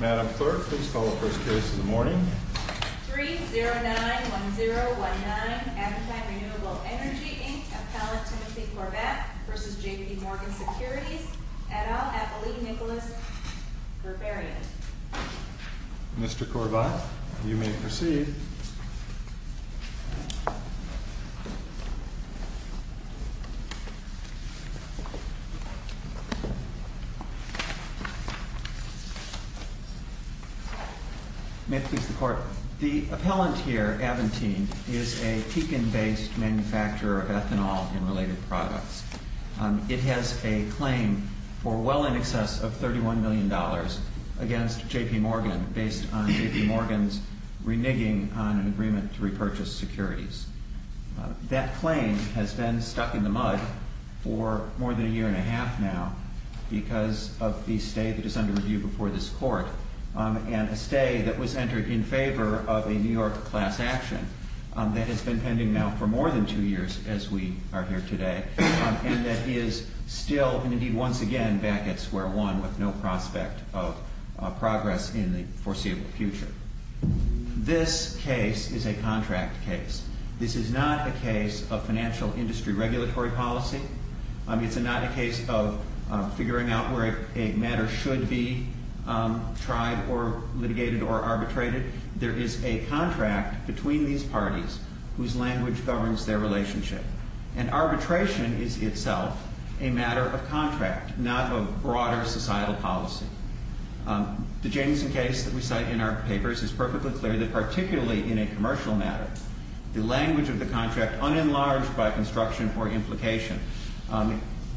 Madam Clerk, please call the first case in the morning. 3091019 Aventine Renewable Energy v. JP Morgan Securities Mr. Corbat, you may proceed. The appellant here, Aventine, is a Pekin-based manufacturer of ethanol and related products. It has a claim for well in excess of $31 million against JP Morgan based on JP Morgan's reneging on an agreement to repurchase securities. That claim has been stuck in the mud for more than a year and a half now because of the stay that is under review before this Court, and a stay that was entered in favor of a New York class action that has been pending now for more than two years as we are here today, and that is still, and indeed once again, back at square one with no prospect of progress in the foreseeable future. This case is a contract case. This is not a case of financial industry regulatory policy. It's not a case of figuring out where a matter should be tried or litigated or arbitrated. There is a contract between these parties whose language governs their relationship, and arbitration is itself a matter of contract, not of broader societal policy. The Jameson case that we cite in our papers is perfectly clear that particularly in a commercial matter, the language of the contract unenlarged by construction or implication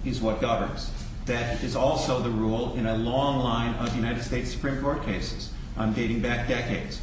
is what governs. That is also the rule in a long line of United States Supreme Court cases dating back decades.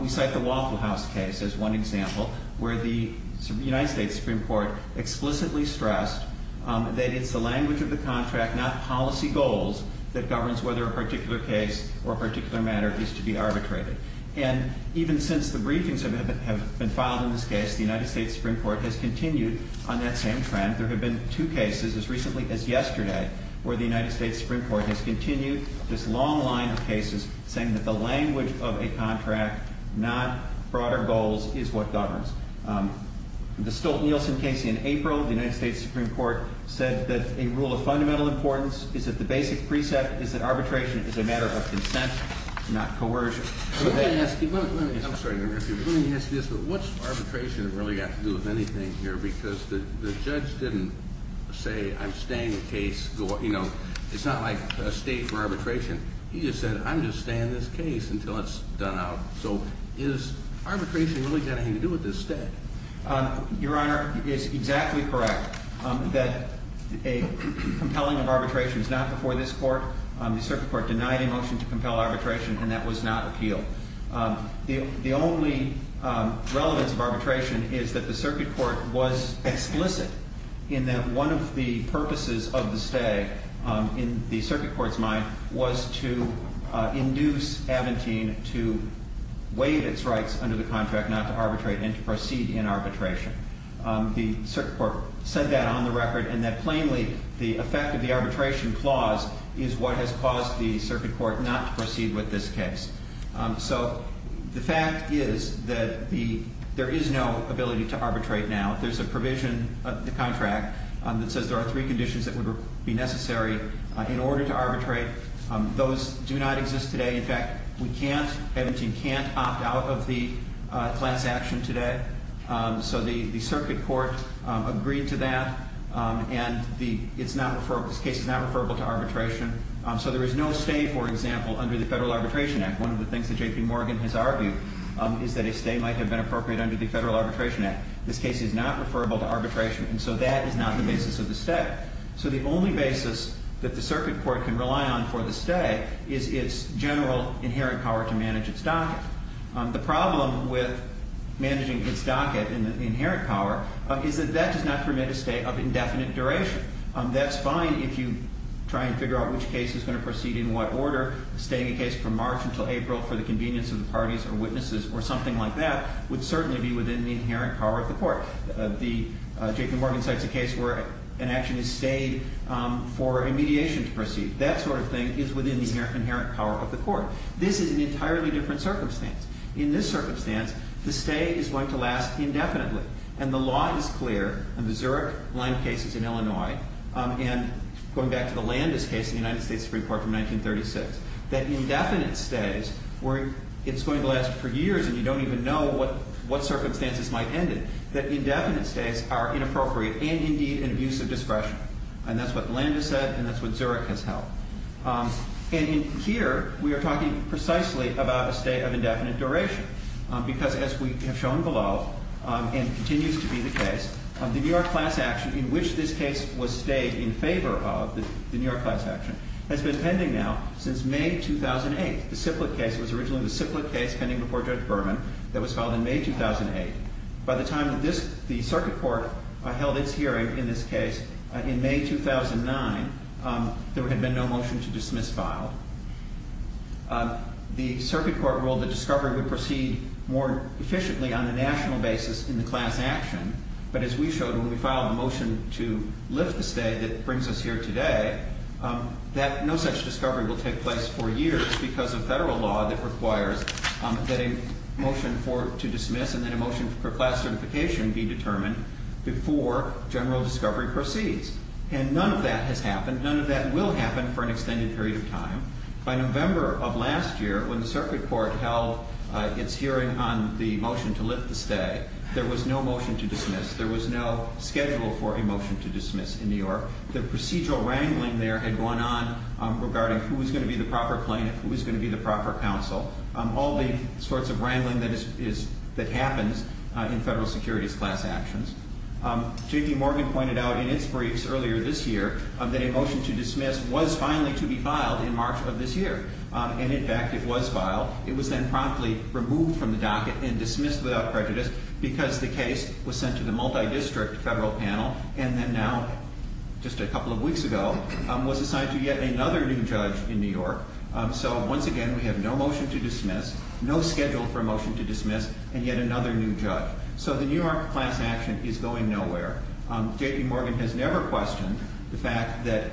We cite the Waffle House case as one example where the United States Supreme Court explicitly stressed that it's the language of the contract, not policy goals, that governs whether a particular case or particular matter is to be arbitrated. And even since the briefings have been filed in this case, the United States Supreme Court has continued on that same trend. There have been two cases as recently as yesterday where the United States Supreme Court has continued this long line of cases saying that the language of a contract, not broader goals, is what governs. The Stolt-Nielsen case in April, the United States Supreme Court said that a rule of fundamental importance is that the basic precept is that arbitration is a matter of consent, not coercion. Let me ask you, I'm sorry to interrupt you, but let me ask you this. What's arbitration really got to do with anything here? Because the judge didn't say, I'm staying the case. It's not like a state for arbitration. He just said, I'm just staying this case until it's done out. So is arbitration really got anything to do with this stay? Your Honor, it is exactly correct that a compelling of arbitration is not before this court. The Circuit Court denied a motion to compel arbitration, and that was not appealed. The only relevance of arbitration is that the Circuit Court was explicit in that one of the rights under the contract not to arbitrate and to proceed in arbitration. The Circuit Court said that on the record, and that plainly the effect of the arbitration clause is what has caused the Circuit Court not to proceed with this case. So the fact is that there is no ability to arbitrate now. There's a provision of the contract that says there are three conditions that would be necessary in order to arbitrate. Those do not exist today. In fact, we can't, Edmonton can't opt out of the class action today. So the Circuit Court agreed to that, and this case is not referable to arbitration. So there is no stay, for example, under the Federal Arbitration Act. One of the things that J.P. Morgan has argued is that a stay might have been appropriate under the Federal Arbitration Act. This case is not referable to arbitration, and so that is not the basis of the stay. So the only basis that the Circuit Court can rely on for the stay is its general inherent power to manage its docket. The problem with managing its docket and the inherent power is that that does not permit a stay of indefinite duration. That's fine if you try and figure out which case is going to proceed in what order. Staying a case from March until April for the convenience of the parties or witnesses or something like that would certainly be within the inherent power of the court. J.P. Morgan cites a case where an action is stayed for a mediation to proceed. That sort of thing is within the inherent power of the court. This is an entirely different circumstance. In this circumstance, the stay is going to last indefinitely, and the law is clear, and the Zurich line case is in Illinois, and going back to the Landis case in the United States Supreme Court from 1936, that indefinite stays, where it's going to last for years and you don't even know what circumstances might end it, that indefinite stays are inappropriate and indeed an abuse of discretion. And that's what Landis said, and that's what Zurich has held. And here we are talking precisely about a stay of indefinite duration, because as we have shown below, and continues to be the case, the New York class action in which this case was stayed in favor of the New York class action has been pending now since May 2008. The CIPLA case was originally the CIPLA case pending before Judge Berman that was filed in May 2008. By the time the circuit court held its hearing in this case in May 2009, there had been no motion to dismiss file. The circuit court ruled that discovery would proceed more efficiently on a national basis in the class action, but as we showed when we filed a motion to lift the stay that brings us here today, that no such discovery will take place for years because of federal law that requires that a motion to dismiss and then a motion for class certification be determined before general discovery proceeds. And none of that has happened. None of that will happen for an extended period of time. By November of last year, when the circuit court held its hearing on the motion to lift the stay, there was no motion to dismiss. The procedural wrangling there had gone on regarding who was going to be the proper plaintiff, who was going to be the proper counsel, all the sorts of wrangling that happens in federal securities class actions. J.P. Morgan pointed out in its briefs earlier this year that a motion to dismiss was finally to be filed in March of this year. And in fact, it was filed. It was then promptly removed from the docket and dismissed without prejudice because the couple of weeks ago was assigned to yet another new judge in New York. So once again, we have no motion to dismiss, no schedule for a motion to dismiss, and yet another new judge. So the New York class action is going nowhere. J.P. Morgan has never questioned the fact that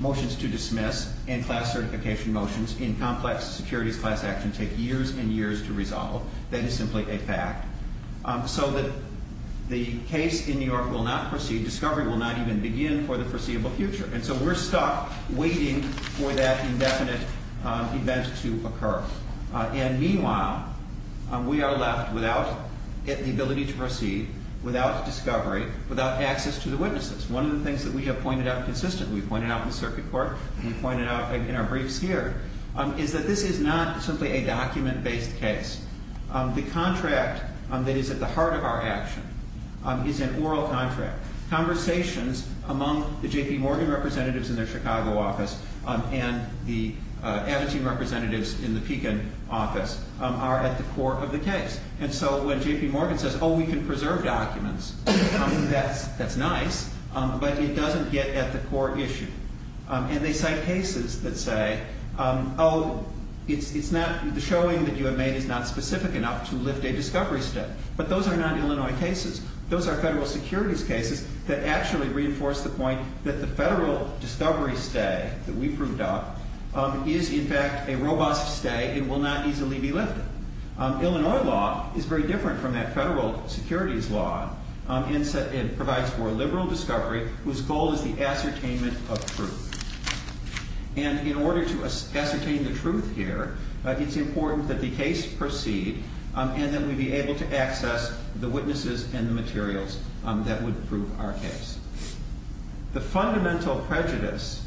motions to dismiss and class certification motions in complex securities class actions take years and years to resolve. That is simply a fact. So that the case in New York will not proceed, discovery will not even begin for the foreseeable future. And so we're stuck waiting for that indefinite event to occur. And meanwhile, we are left without the ability to proceed, without discovery, without access to the witnesses. One of the things that we have pointed out consistently, we pointed out in the circuit court, we pointed out in our briefs here, is that this is not simply a document-based case. The contract that is at the heart of our action is an oral contract. Conversations among the J.P. Morgan representatives in their Chicago office and the Abitibi representatives in the Pekin office are at the core of the case. And so when J.P. Morgan says, oh, we can preserve documents, that's nice, but it doesn't get at the core issue. And they cite cases that say, oh, the showing that you have made is not specific enough to lift a discovery stay. But those are not Illinois cases. Those are federal securities cases that actually reinforce the point that the federal discovery stay that we proved up is, in fact, a robust stay and will not easily be lifted. Illinois law is very different from that federal securities law and provides for a liberal discovery whose goal is the ascertainment of truth. And in order to ascertain the truth here, it's important that the case proceed and that we be able to access the witnesses and the materials that would prove our case. The fundamental prejudice,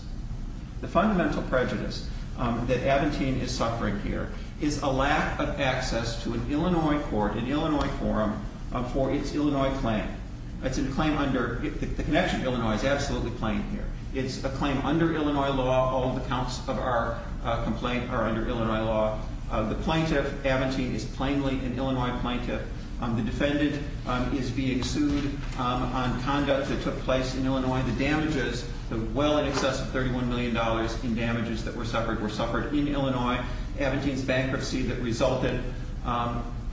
the fundamental prejudice that Abentine is suffering here is a lack of access to an Illinois court, an Illinois forum for its Illinois claim. The connection to Illinois is absolutely plain here. It's a claim under Illinois law. All the counts of our complaint are under Illinois law. The plaintiff, Abentine, is plainly an Illinois plaintiff. The defendant is being sued on conduct that took place in Illinois. The damages, the well in excess of $31 million in damages that were suffered were suffered in Illinois. Abentine's bankruptcy that resulted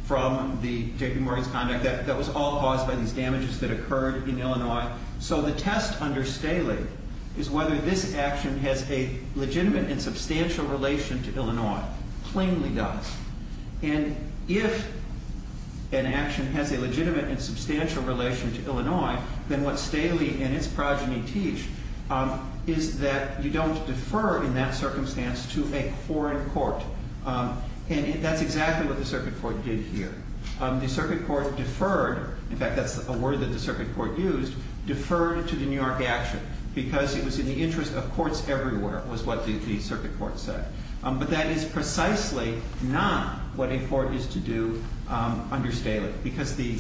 from the JP Morgan's conduct, that was all caused by these damages that occurred in Illinois. So the test under Staley is whether this action has a legitimate and substantial relation to Illinois. Plainly does. And if an action has a legitimate and substantial relation to Illinois, then what Staley and its progeny teach is that you don't defer in that circumstance to a foreign court. And that's exactly what the circuit court did here. The circuit court deferred, in fact that's a word that the circuit court used, deferred to the New York action because it was in the interest of courts everywhere was what the circuit court said. But that is precisely not what a court is to do under Staley because the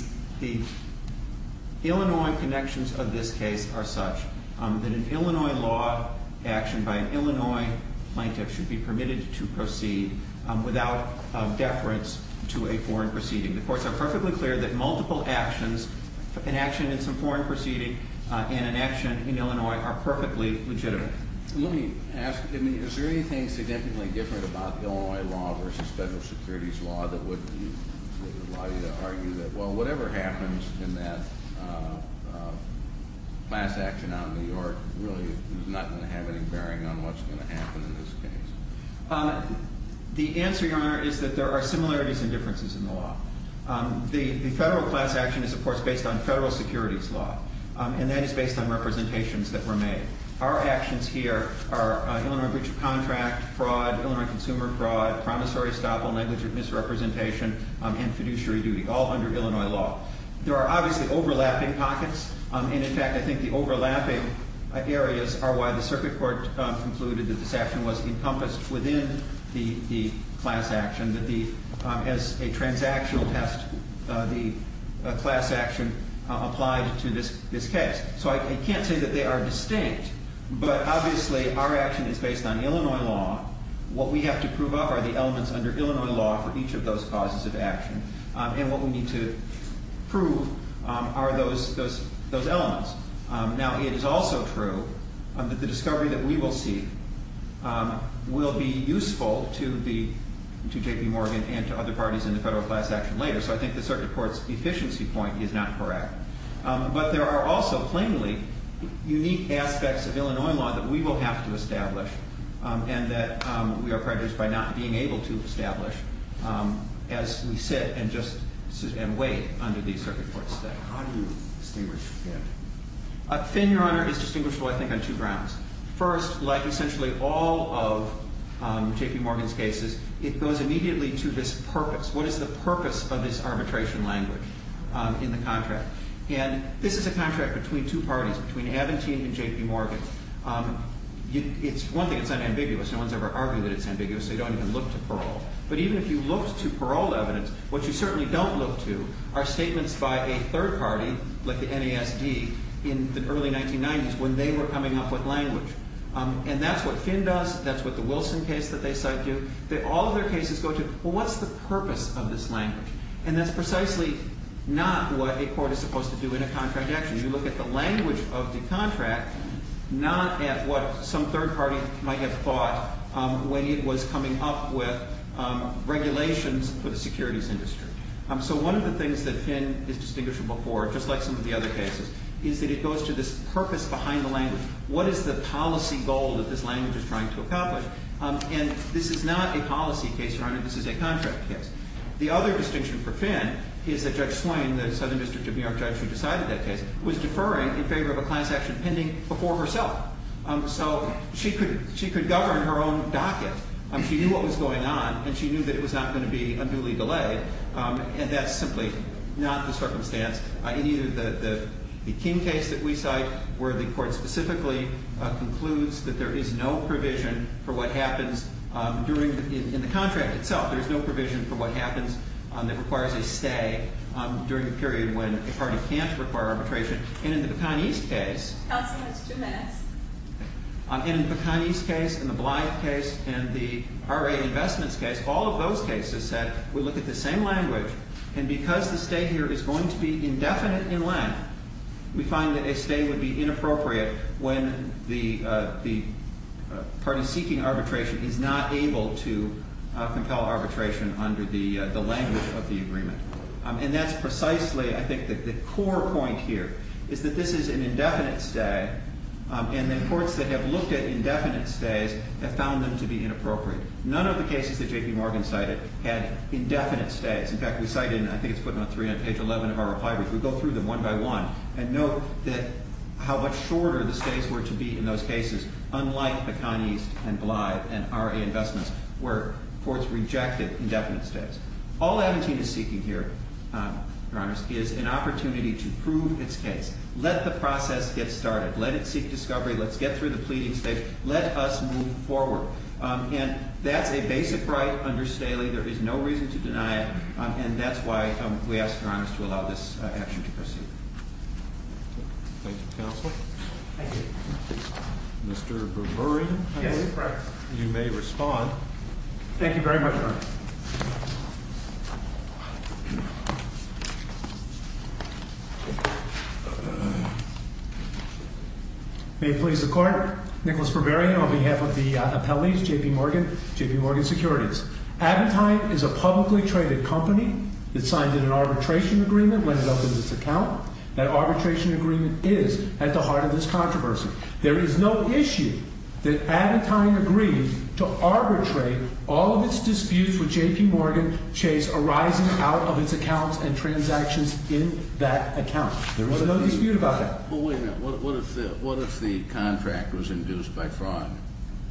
Illinois connections of this case are such that an Illinois law action by an Illinois plaintiff should be permitted to proceed without deference to a foreign proceeding. The courts are perfectly clear that multiple actions, an action in some foreign proceeding and an action in Illinois are perfectly legitimate. Let me ask, is there anything significantly different about Illinois law versus federal securities law that would allow you to argue that, well, whatever happens in that class action out in New York really is not going to have any bearing on what's going to happen in this case? The answer, Your Honor, is that there are similarities and differences in the law. The federal class action is, of course, based on federal securities law. And that is based on representations that were made. Our actions here are Illinois breach of contract, fraud, Illinois consumer fraud, promissory stoppage, negligent misrepresentation, and fiduciary duty, all under Illinois law. There are obviously overlapping pockets. And, in fact, I think the overlapping areas are why the circuit court concluded that this action was encompassed within the class action, that as a transactional test, the class action applied to this case. So I can't say that they are distinct. But, obviously, our action is based on Illinois law. What we have to prove up are the elements under Illinois law for each of those causes of action. And what we need to prove are those elements. Now, it is also true that the discovery that we will see will be useful to J.P. Morgan and to other parties in the federal class action later. So I think the circuit court's efficiency point is not correct. But there are also plainly unique aspects of Illinois law that we will have to establish and that we are prejudiced by not being able to establish as we sit and wait under these circuit courts. How do you distinguish thin? Thin, Your Honor, is distinguishable, I think, on two grounds. First, like essentially all of J.P. Morgan's cases, it goes immediately to this purpose. What is the purpose of this arbitration language in the contract? And this is a contract between two parties, between Aventine and J.P. Morgan. One thing, it's unambiguous. No one's ever argued that it's ambiguous, so you don't even look to parole. But even if you looked to parole evidence, what you certainly don't look to are statements by a third party, like the NASD, in the early 1990s when they were coming up with language. And that's what thin does. That's what the Wilson case that they cite do. All of their cases go to, well, what's the purpose of this language? And that's precisely not what a court is supposed to do in a contract action. You look at the language of the contract, not at what some third party might have thought when it was coming up with regulations for the securities industry. So one of the things that thin is distinguishable for, just like some of the other cases, is that it goes to this purpose behind the language. What is the policy goal that this language is trying to accomplish? And this is not a policy case, Your Honor. This is a contract case. The other distinction for thin is that Judge Swain, the Southern District of New York judge who decided that case, was deferring in favor of a client's action pending before herself. So she could govern her own docket. She knew what was going on, and she knew that it was not going to be unduly delayed. And that's simply not the circumstance in either the King case that we cite, where the court specifically concludes that there is no provision for what happens in the contract itself. There is no provision for what happens that requires a stay during a period when a party can't require arbitration. And in the Pecan East case. Counsel, that's two minutes. And in the Pecan East case and the Blythe case and the RA Investments case, all of those cases said we look at the same language. And because the stay here is going to be indefinite in length, we find that a stay would be inappropriate when the party seeking arbitration is not able to compel arbitration under the language of the agreement. And that's precisely, I think, the core point here, is that this is an indefinite stay, and the courts that have looked at indefinite stays have found them to be inappropriate. None of the cases that J.P. Morgan cited had indefinite stays. In fact, we cited, and I think it's put on page 11 of our reply, we go through them one by one and note how much shorter the stays were to be in those cases, unlike Pecan East and Blythe and RA Investments, where courts rejected indefinite stays. All Aventino is seeking here, Your Honor, is an opportunity to prove its case. Let the process get started. Let it seek discovery. Let's get through the pleading stage. Let us move forward. And that's a basic right under Staley. There is no reason to deny it. And that's why we ask, Your Honor, to allow this action to proceed. Thank you, counsel. Thank you. Mr. Berberian, you may respond. Thank you very much, Your Honor. May it please the Court, Nicholas Berberian on behalf of the appellees, J.P. Morgan, J.P. Morgan Securities. Aventine is a publicly traded company. It signed an arbitration agreement when it opened its account. That arbitration agreement is at the heart of this controversy. There is no issue that Aventine agrees to arbitrate all of its disputes with J.P. Morgan Chase arising out of its accounts and transactions in that account. There is no dispute about it. Well, wait a minute. What if the contract was induced by fraud?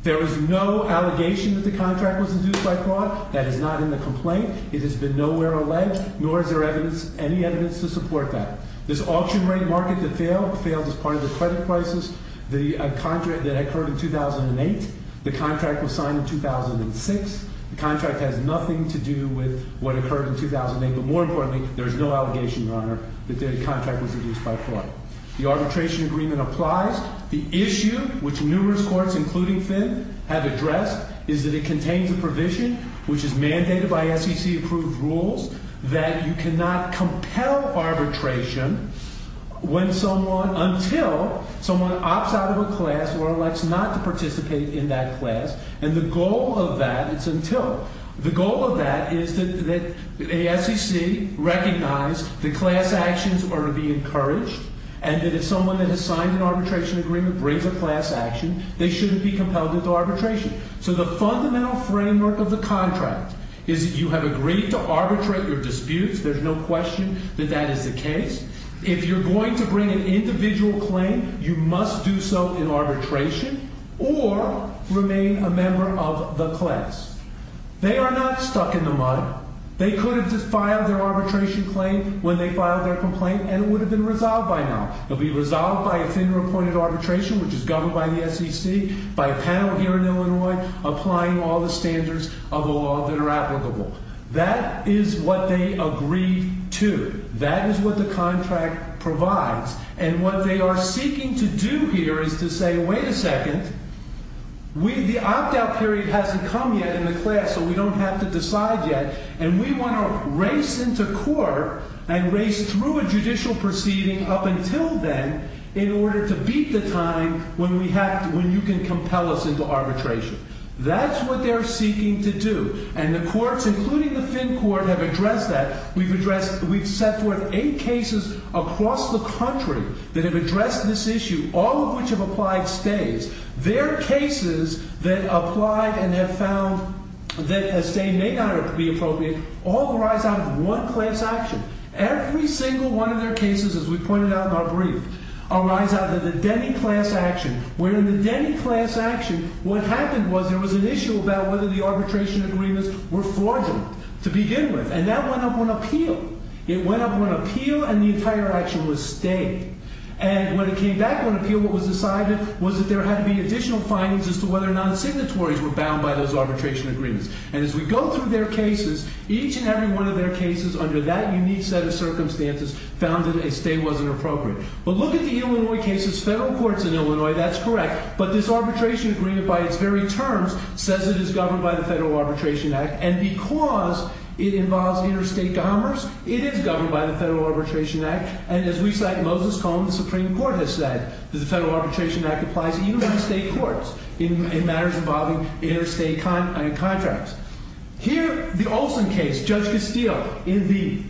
There is no allegation that the contract was induced by fraud. That is not in the complaint. It has been nowhere alleged, nor is there evidence, any evidence to support that. This auction rate market that failed, failed as part of the credit crisis, the contract that occurred in 2008. The contract was signed in 2006. The contract has nothing to do with what occurred in 2008. But more importantly, there is no allegation, Your Honor, that the contract was induced by fraud. The arbitration agreement applies. The issue, which numerous courts, including Finn, have addressed, is that it contains a provision, which is mandated by SEC-approved rules, that you cannot compel arbitration when someone, until someone opts out of a class or elects not to participate in that class. And the goal of that, it's until. The goal of that is that the SEC recognize that class actions are to be encouraged, and that if someone that has signed an arbitration agreement brings a class action, they shouldn't be compelled into arbitration. So the fundamental framework of the contract is that you have agreed to arbitrate your disputes. There's no question that that is the case. If you're going to bring an individual claim, you must do so in arbitration or remain a member of the class. They are not stuck in the mud. They could have just filed their arbitration claim when they filed their complaint, and it would have been resolved by now. It would be resolved by a FINRA-appointed arbitration, which is governed by the SEC, by a panel here in Illinois applying all the standards of the law that are applicable. That is what they agreed to. That is what the contract provides. And what they are seeking to do here is to say, wait a second, the opt-out period hasn't come yet in the class, so we don't have to decide yet. And we want to race into court and race through a judicial proceeding up until then in order to beat the time when you can compel us into arbitration. That's what they're seeking to do. And the courts, including the FIN Court, have addressed that. We've addressed – we've set forth eight cases across the country that have addressed this issue, all of which have applied stays. Their cases that applied and have found that a stay may not be appropriate all arise out of one class action. Every single one of their cases, as we pointed out in our brief, arise out of the Denny class action, where in the Denny class action, what happened was there was an issue about whether the arbitration agreements were fraudulent to begin with. And that went up on appeal. It went up on appeal and the entire action was stayed. And when it came back on appeal, what was decided was that there had to be additional findings as to whether or not signatories were bound by those arbitration agreements. And as we go through their cases, each and every one of their cases under that unique set of circumstances found that a stay wasn't appropriate. But look at the Illinois cases. Federal courts in Illinois, that's correct. But this arbitration agreement by its very terms says it is governed by the Federal Arbitration Act. And because it involves interstate commerce, it is governed by the Federal Arbitration Act. And as we cite in Moses' column, the Supreme Court has said that the Federal Arbitration Act applies even to state courts in matters involving interstate contracts. Here, the Olson case, Judge Castile in the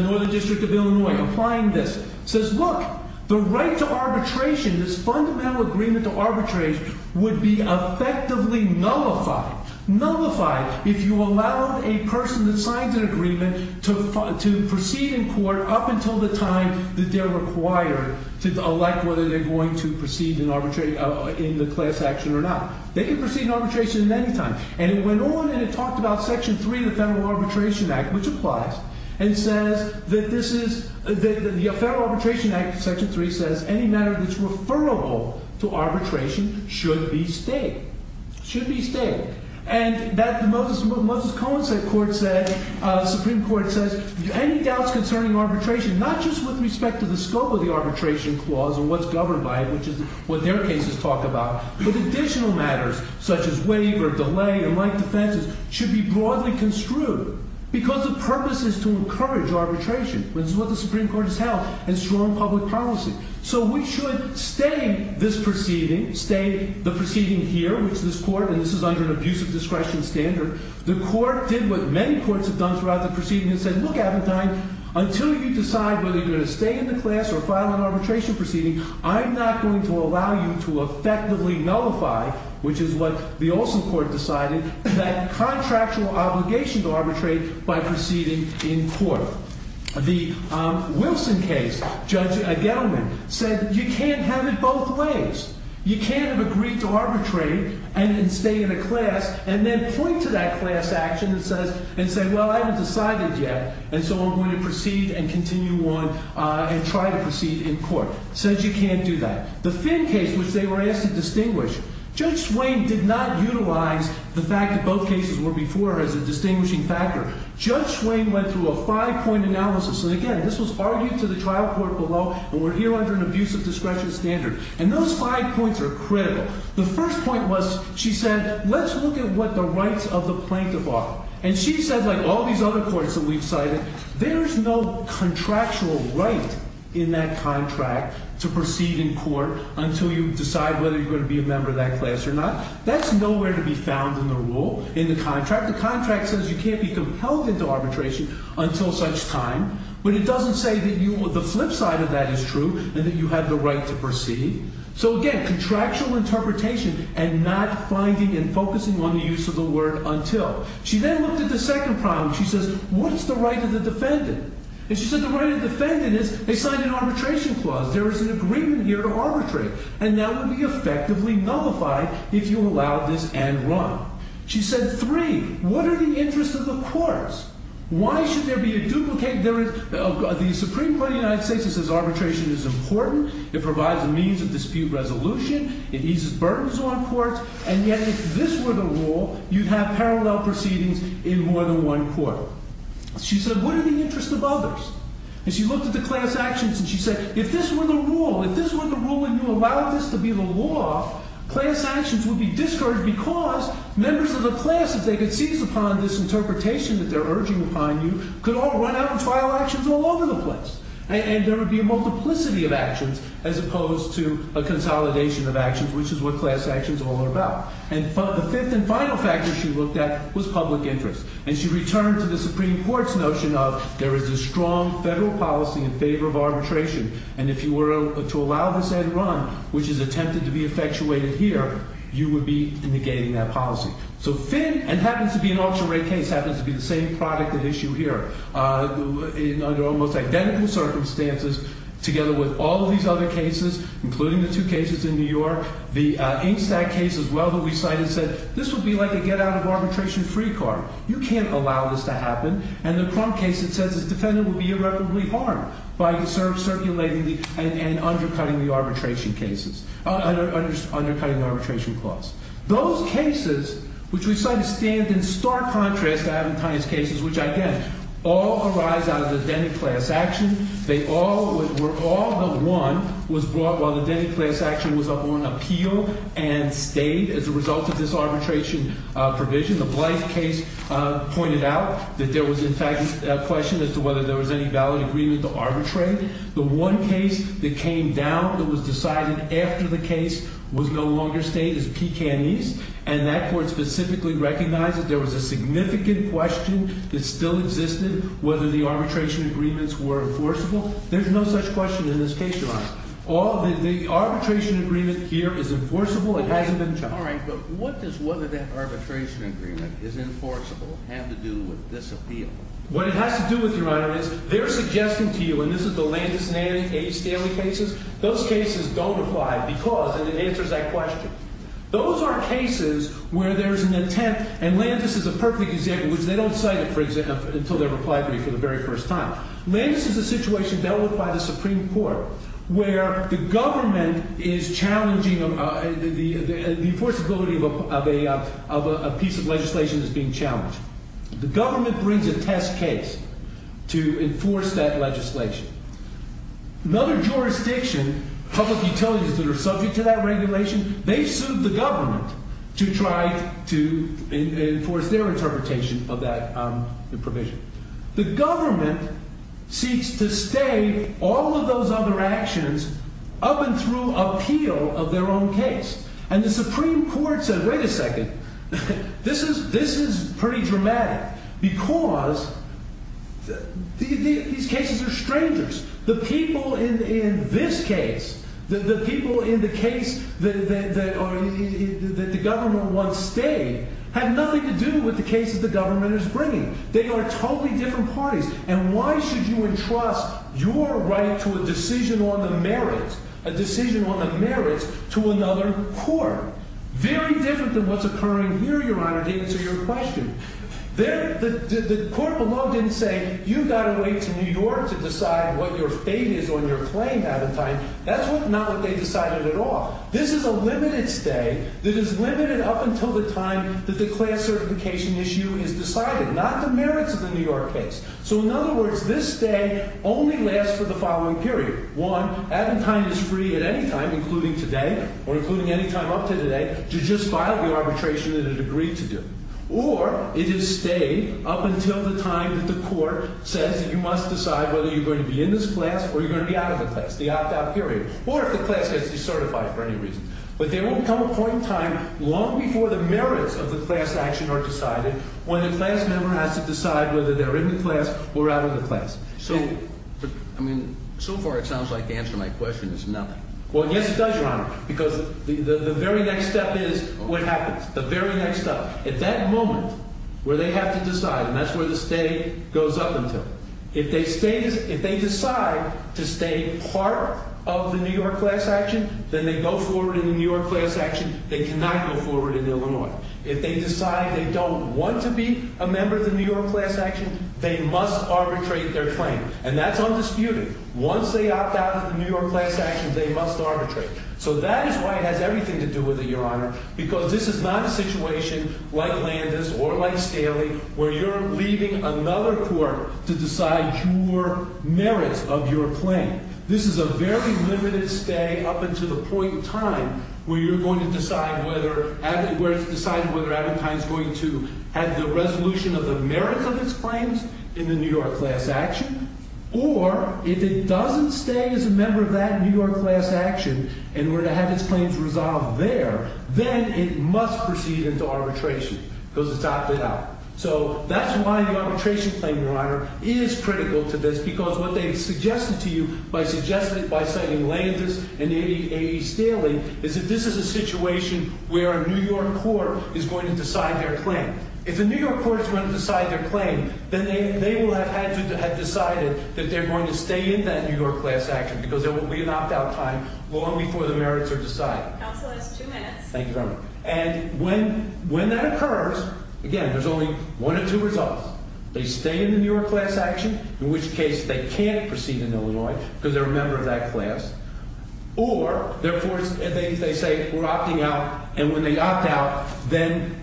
Northern District of Illinois applying this, says, look, the right to arbitration, this fundamental agreement to arbitrate would be effectively nullified. Nullified if you allowed a person that signs an agreement to proceed in court up until the time that they're required to elect whether they're going to proceed in the class action or not. They can proceed in arbitration at any time. And it went on and it talked about Section 3 of the Federal Arbitration Act, which applies, and says that this is – the Federal Arbitration Act Section 3 says any matter that's referable to arbitration should be stayed. And that the Moses Cohen Supreme Court says any doubts concerning arbitration, not just with respect to the scope of the arbitration clause and what's governed by it, which is what their cases talk about, but additional matters such as waiver, delay, and like defenses should be broadly construed because the purpose is to encourage arbitration. This is what the Supreme Court has held in strong public policy. So we should stay this proceeding, stay the proceeding here, which this Court – and this is under an abusive discretion standard. The Court did what many courts have done throughout the proceedings and said, look, Appentine, until you decide whether you're going to stay in the class or file an arbitration proceeding, I'm not going to allow you to effectively nullify, which is what the Olson Court decided, that contractual obligation to arbitrate by proceeding in court. The Wilson case, Judge Edelman, said you can't have it both ways. You can't have agreed to arbitrate and stay in a class and then point to that class action and say, well, I haven't decided yet, and so I'm going to proceed and continue on and try to proceed in court. Says you can't do that. The Finn case, which they were asked to distinguish, Judge Swain did not utilize the fact that both cases were before her as a distinguishing factor. Judge Swain went through a five-point analysis, and again, this was argued to the trial court below, and we're here under an abusive discretion standard. And those five points are critical. The first point was she said, let's look at what the rights of the plaintiff are. And she said, like all these other courts that we've cited, there's no contractual right in that contract to proceed in court until you decide whether you're going to be a member of that class or not. That's nowhere to be found in the rule, in the contract. The contract says you can't be compelled into arbitration until such time, but it doesn't say that the flip side of that is true and that you have the right to proceed. So, again, contractual interpretation and not finding and focusing on the use of the word until. She then looked at the second problem. She says, what's the right of the defendant? And she said the right of the defendant is they signed an arbitration clause. There is an agreement here to arbitrate, and that would be effectively nullified if you allowed this and run. She said, three, what are the interests of the courts? Why should there be a duplicate? There is the Supreme Court of the United States that says arbitration is important. It provides a means of dispute resolution. It eases burdens on courts. And yet, if this were the rule, you'd have parallel proceedings in more than one court. She said, what are the interests of others? And she looked at the class actions, and she said, if this were the rule, if this were the rule and you allowed this to be the law, class actions would be discouraged because members of the class, if they could seize upon this interpretation that they're urging upon you, could all run out and file actions all over the place. And there would be a multiplicity of actions as opposed to a consolidation of actions, which is what class actions are all about. And the fifth and final factor she looked at was public interest. And she returned to the Supreme Court's notion of there is a strong federal policy in favor of arbitration, and if you were to allow this ad run, which is attempted to be effectuated here, you would be negating that policy. So Finn, and happens to be an ultra-rare case, happens to be the same product at issue here, under almost identical circumstances, together with all of these other cases, including the two cases in New York. The Ingstad case as well, who we cited, said this would be like a get-out-of-arbitration-free card. You can't allow this to happen. And the Crump case, it says this defendant would be irreparably harmed by circulating and undercutting the arbitration clause. Those cases, which we cited, stand in stark contrast to Aventine's cases, which, again, all arise out of the Denny class action. They all were all but one was brought while the Denny class action was up on appeal and stayed as a result of this arbitration provision. The Blythe case pointed out that there was, in fact, a question as to whether there was any valid agreement to arbitrate. The one case that came down that was decided after the case was no longer stayed as P. Canese, and that court specifically recognized that there was a significant question that still existed whether the arbitration agreements were enforceable. There's no such question in this case, Your Honor. The arbitration agreement here is enforceable. It hasn't been judged. All right, but what does whether that arbitration agreement is enforceable have to do with this appeal? What it has to do with, Your Honor, is they're suggesting to you, and this is the Landis and A. Stanley cases, those cases don't apply because, and it answers that question, those are cases where there's an intent, and Landis is a perfect example, which they don't cite it, for example, until they reply to me for the very first time. Landis is a situation dealt with by the Supreme Court where the government is challenging, the enforceability of a piece of legislation is being challenged. The government brings a test case to enforce that legislation. Another jurisdiction, public utilities that are subject to that regulation, they sued the government to try to enforce their interpretation of that provision. The government seeks to stay all of those other actions up and through appeal of their own case. And the Supreme Court said, wait a second, this is pretty dramatic because these cases are strangers. The people in this case, the people in the case that the government wants to stay, have nothing to do with the case that the government is bringing. They are totally different parties, and why should you entrust your right to a decision on the merits, a decision on the merits to another court? Very different than what's occurring here, Your Honor, to answer your question. The court below didn't say, you've got to wait until New York to decide what your fate is on your claim by the time, that's not what they decided at all. This is a limited stay that is limited up until the time that the class certification issue is decided, not the merits of the New York case. So, in other words, this stay only lasts for the following period. One, Attentine is free at any time, including today, or including any time up to today, to just file the arbitration that it agreed to do. Or, it is stayed up until the time that the court says that you must decide whether you're going to be in this class or you're going to be out of the class, the opt-out period, or if the class has to be certified for any reason. But there won't come a point in time long before the merits of the class action are decided when the class member has to decide whether they're in the class or out of the class. So, I mean, so far it sounds like the answer to my question is no. Well, yes it does, Your Honor, because the very next step is what happens. The very next step. At that moment where they have to decide, and that's where the stay goes up until. If they decide to stay part of the New York class action, then they go forward in the New York class action. They cannot go forward in Illinois. If they decide they don't want to be a member of the New York class action, they must arbitrate their claim. And that's undisputed. Once they opt out of the New York class action, they must arbitrate. So that is why it has everything to do with it, Your Honor, because this is not a situation like Landis or like Staley where you're leaving another court to decide your merits of your claim. This is a very limited stay up until the point in time where you're going to decide whether, where it's decided whether Abentei is going to have the resolution of the merits of its claims in the New York class action, or if it doesn't stay as a member of that New York class action and we're going to have its claims resolved there, then it must proceed into arbitration because it's opted out. So that's why the arbitration claim, Your Honor, is critical to this, because what they've suggested to you by suggesting it by citing Landis and A.E. Staley is that this is a situation where a New York court is going to decide their claim. If a New York court is going to decide their claim, then they will have had to, have decided that they're going to stay in that New York class action because there will be an opt-out time long before the merits are decided. Counsel has two minutes. Thank you, Your Honor. And when that occurs, again, there's only one of two results. They stay in the New York class action, in which case they can't proceed in Illinois because they're a member of that class, or, therefore, they say we're opting out, and when they opt out, then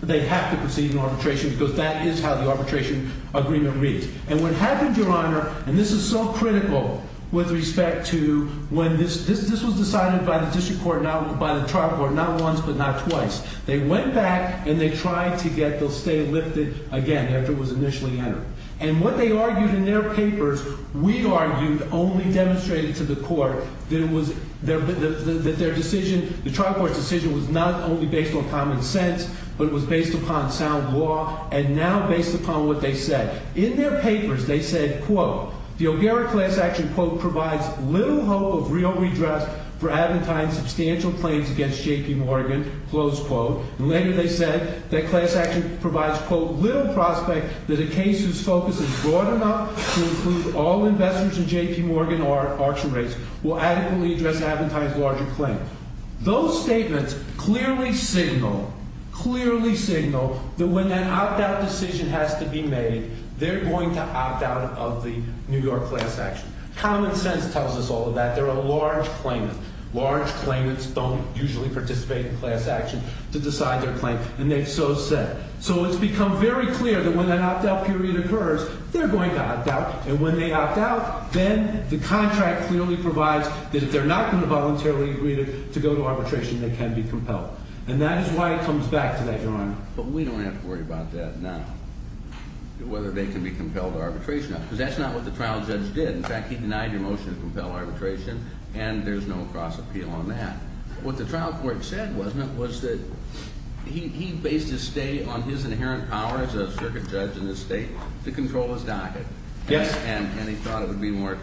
they have to proceed in arbitration because that is how the arbitration agreement reads. And what happened, Your Honor, and this is so critical with respect to when this, this was decided by the district court, not by the trial court, not once but not twice. They went back and they tried to get the stay lifted again after it was initially entered. And what they argued in their papers, we argued, only demonstrated to the court that it was, that their decision, the trial court's decision was not only based on common sense, but it was based upon sound law and now based upon what they said. In their papers, they said, quote, the O'Gara class action, quote, provides little hope of real redress for Abentine's substantial claims against J.P. Morgan, close quote. And later they said that class action provides, quote, little prospect that a case whose focus is broad enough to include all investors in J.P. Morgan or auction rates will adequately address Abentine's larger claim. Those statements clearly signal, clearly signal that when that opt out decision has to be made, they're going to opt out of the New York class action. Common sense tells us all of that. There are large claimants. Large claimants don't usually participate in class action to decide their claim. And they've so said. So it's become very clear that when that opt out period occurs, they're going to opt out. And when they opt out, then the contract clearly provides that if they're not going to voluntarily agree to go to arbitration, they can be compelled. And that is why it comes back to that, Your Honor. But we don't have to worry about that now, whether they can be compelled to arbitration. Because that's not what the trial judge did. In fact, he denied your motion to compel arbitration, and there's no cross appeal on that. What the trial court said, wasn't it, was that he based his stay on his inherent power as a circuit judge in this state to control his docket. Yes. And he thought it would be more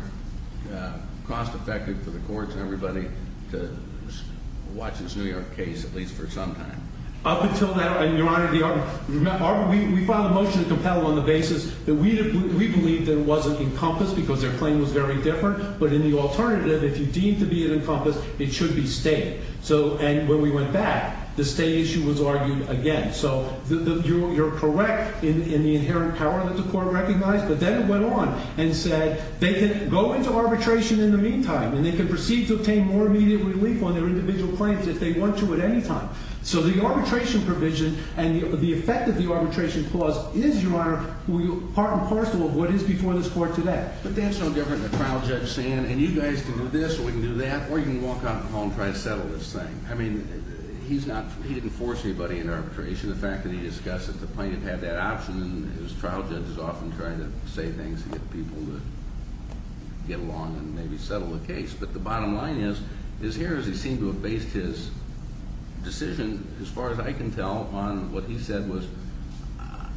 cost effective for the courts and everybody to watch this New York case, at least for some time. Up until now, Your Honor, we filed a motion to compel on the basis that we believed that it wasn't encompassed because their claim was very different. But in the alternative, if you deem to be encompassed, it should be stayed. And when we went back, the stay issue was argued again. So you're correct in the inherent power that the court recognized. But then it went on and said they can go into arbitration in the meantime, and they can proceed to obtain more immediate relief on their individual claims if they want to at any time. So the arbitration provision and the effect of the arbitration clause is, Your Honor, part and parcel of what is before this court today. But that's no different than the trial judge saying, and you guys can do this, or we can do that, or you can walk out the hall and try to settle this thing. I mean, he didn't force anybody in arbitration. The fact that he discussed it, the plaintiff had that option, and his trial judge is often trying to say things to get people to get along and maybe settle the case. But the bottom line is, his hearings, he seemed to have based his decision, as far as I can tell, on what he said was,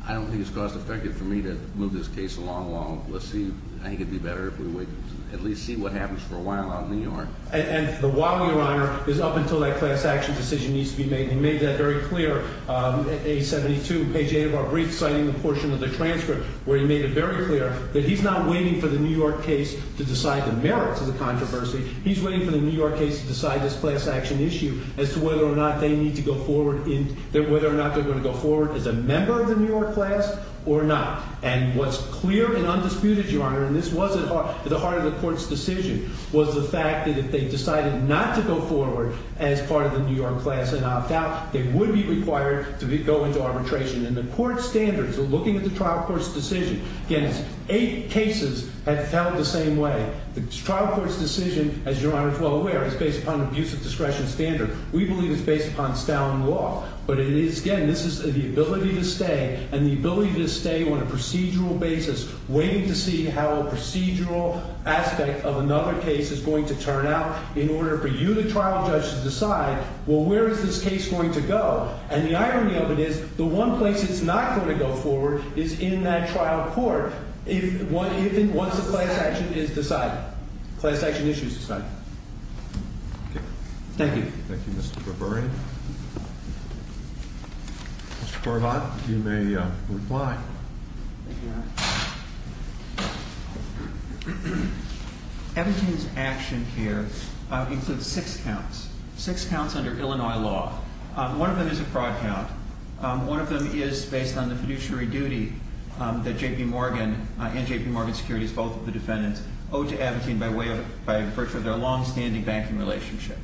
I don't think it's cost effective for me to move this case along long. Let's see. I think it'd be better if we would at least see what happens for a while out in New York. And the why, Your Honor, is up until that class action decision needs to be made. He made that very clear at page 72, page 8 of our brief, citing the portion of the transcript, where he made it very clear that he's not waiting for the New York case to decide the merits of the controversy. He's waiting for the New York case to decide this class action issue as to whether or not they need to go forward, whether or not they're going to go forward as a member of the New York class or not. And what's clear and undisputed, Your Honor, and this was at the heart of the court's decision, was the fact that if they decided not to go forward as part of the New York class and opt out, they would be required to go into arbitration. And the court standards are looking at the trial court's decision. Again, eight cases have held the same way. The trial court's decision, as Your Honor is well aware, is based upon an abuse of discretion standard. We believe it's based upon Stalin law. But it is, again, this is the ability to stay and the ability to stay on a procedural basis waiting to see how a procedural aspect of another case is going to turn out in order for you, the trial judge, to decide, well, where is this case going to go? And the irony of it is the one place it's not going to go forward is in that trial court if and once the class action is decided, class action issue is decided. Thank you. Thank you, Mr. Berberi. Mr. Corbat, you may reply. Thank you, Your Honor. Abitin's action here includes six counts, six counts under Illinois law. One of them is a fraud count. One of them is based on the fiduciary duty that J.P. Morgan and J.P. Morgan Securities, both of the defendants, owe to Abitin by virtue of their longstanding banking relationship.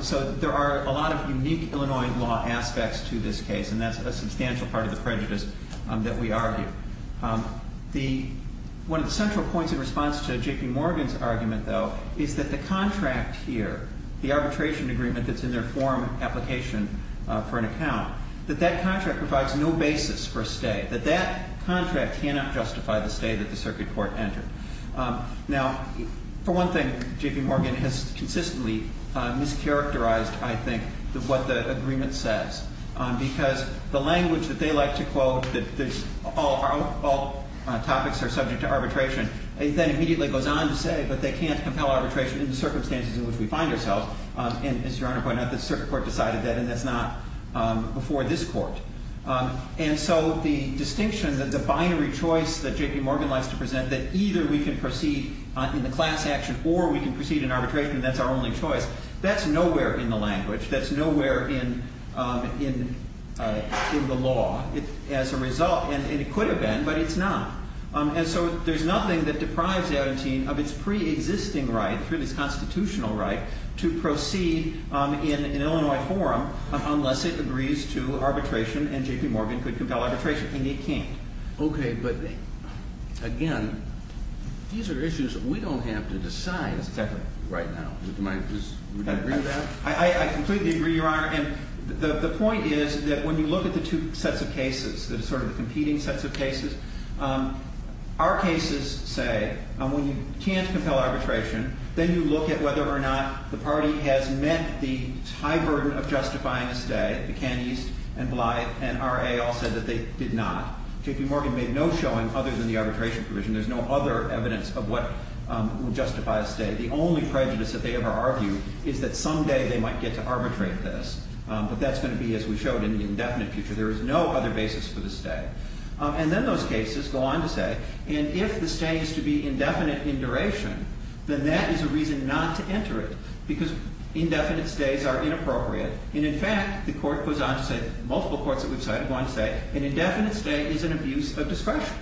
So there are a lot of unique Illinois law aspects to this case, and that's a substantial part of the prejudice that we argue. One of the central points in response to J.P. Morgan's argument, though, is that the contract here, the arbitration agreement that's in their form application for an account, that that contract provides no basis for a stay, that that contract cannot justify the stay that the circuit court entered. Now, for one thing, J.P. Morgan has consistently mischaracterized, I think, what the agreement says, because the language that they like to quote, that all topics are subject to arbitration, that immediately goes on to say that they can't compel arbitration in the circumstances in which we find ourselves. And as Your Honor pointed out, the circuit court decided that, and that's not before this court. And so the distinction, the binary choice that J.P. Morgan likes to present, that either we can proceed in the class action or we can proceed in arbitration, and that's our only choice, that's nowhere in the language. That's nowhere in the law. As a result, and it could have been, but it's not. And so there's nothing that deprives Abitin of its preexisting right, to proceed in an Illinois forum unless it agrees to arbitration and J.P. Morgan could compel arbitration. And it can't. Okay, but again, these are issues that we don't have to decide. Exactly. Right now. Would you agree with that? I completely agree, Your Honor. And the point is that when you look at the two sets of cases, the sort of competing sets of cases, our cases say when you can't compel arbitration, then you look at whether or not the party has met the high burden of justifying a stay. Buchanese and Blythe and R.A. all said that they did not. J.P. Morgan made no showing other than the arbitration provision. There's no other evidence of what would justify a stay. The only prejudice that they ever argued is that someday they might get to arbitrate this. But that's going to be, as we showed, in the indefinite future. There is no other basis for the stay. And then those cases go on to say, and if the stay is to be indefinite in duration, then that is a reason not to enter it, because indefinite stays are inappropriate. And, in fact, the court goes on to say, multiple courts that we've cited go on to say, an indefinite stay is an abuse of discretion.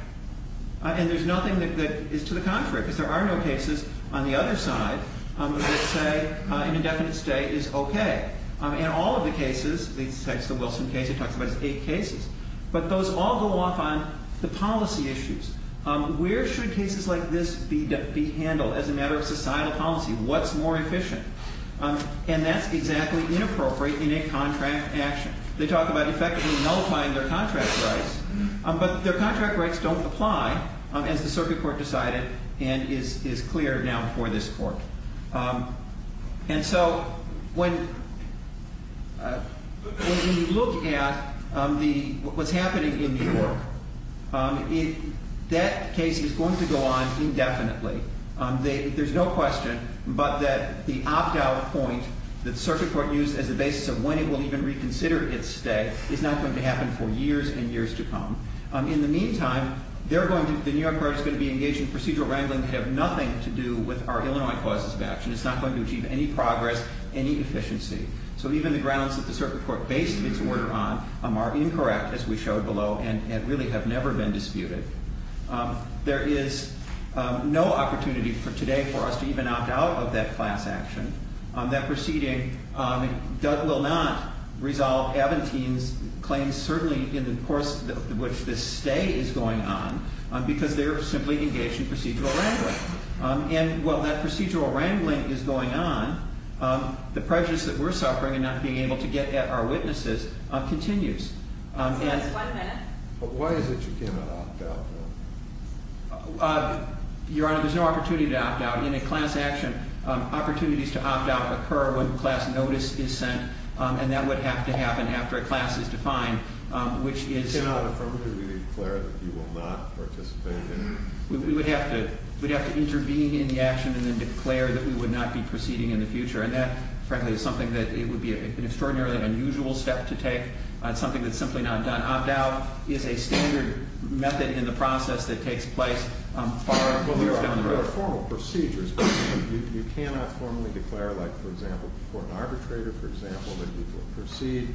And there's nothing that is to the contrary, because there are no cases on the other side that say an indefinite stay is okay. In all of the cases, the Wilson case, it talks about eight cases. But those all go off on the policy issues. Where should cases like this be handled as a matter of societal policy? What's more efficient? And that's exactly inappropriate in a contract action. They talk about effectively nullifying their contract rights, but their contract rights don't apply, as the circuit court decided and is clear now before this court. And so when we look at what's happening in New York, that case is going to go on indefinitely. There's no question but that the opt-out point that the circuit court used as the basis of when it will even reconsider its stay is not going to happen for years and years to come. In the meantime, the New York court is going to be engaged in procedural wrangling that has nothing to do with our Illinois clauses of action. It's not going to achieve any progress, any efficiency. So even the grounds that the circuit court based its order on are incorrect, as we showed below, and really have never been disputed. There is no opportunity for today for us to even opt out of that class action. That proceeding will not resolve Aventine's claims, certainly in the course of which this stay is going on, because they're simply engaged in procedural wrangling. And while that procedural wrangling is going on, the prejudice that we're suffering and not being able to get at our witnesses continues. But why is it you cannot opt out? Your Honor, there's no opportunity to opt out. In a class action, opportunities to opt out occur when class notice is sent, and that would have to happen after a class is defined, which is— We would have to intervene in the action and then declare that we would not be proceeding in the future, and that, frankly, is something that it would be an extraordinarily unusual step to take, something that's simply not done. Opt out is a standard method in the process that takes place far down the road. Your Honor, there are formal procedures, but you cannot formally declare, like, for example, before an arbitrator, for example, that you will proceed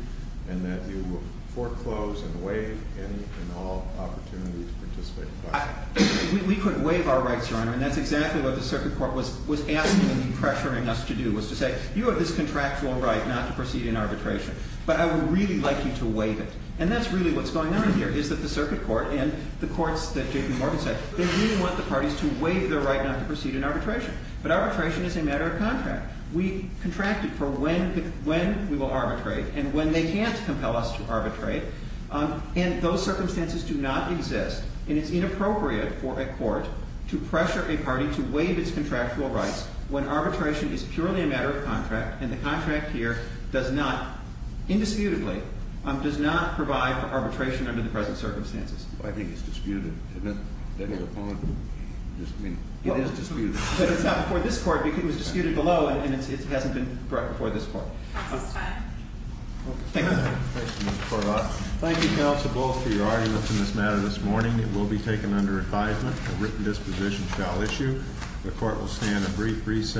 and that you will foreclose and waive any and all opportunity to participate in the process. We could waive our rights, Your Honor, and that's exactly what the Circuit Court was asking and pressuring us to do, was to say, you have this contractual right not to proceed in arbitration, but I would really like you to waive it. And that's really what's going on here, is that the Circuit Court and the courts that J.P. Morgan said, they really want the parties to waive their right not to proceed in arbitration. But arbitration is a matter of contract. We contract it for when we will arbitrate and when they can't compel us to arbitrate, and those circumstances do not exist. And it's inappropriate for a court to pressure a party to waive its contractual rights when arbitration is purely a matter of contract, and the contract here does not, indisputably, does not provide for arbitration under the present circumstances. I think it's disputed, isn't it, that you're on? I mean, it is disputed. But it's not before this court because it was disputed below, and it hasn't been brought before this court. That's fine. Thank you. Thank you, Mr. Corbat. Thank you, counsel, both for your arguments in this matter this morning. It will be taken under advisement. A written disposition shall issue. The court will stand a brief recess.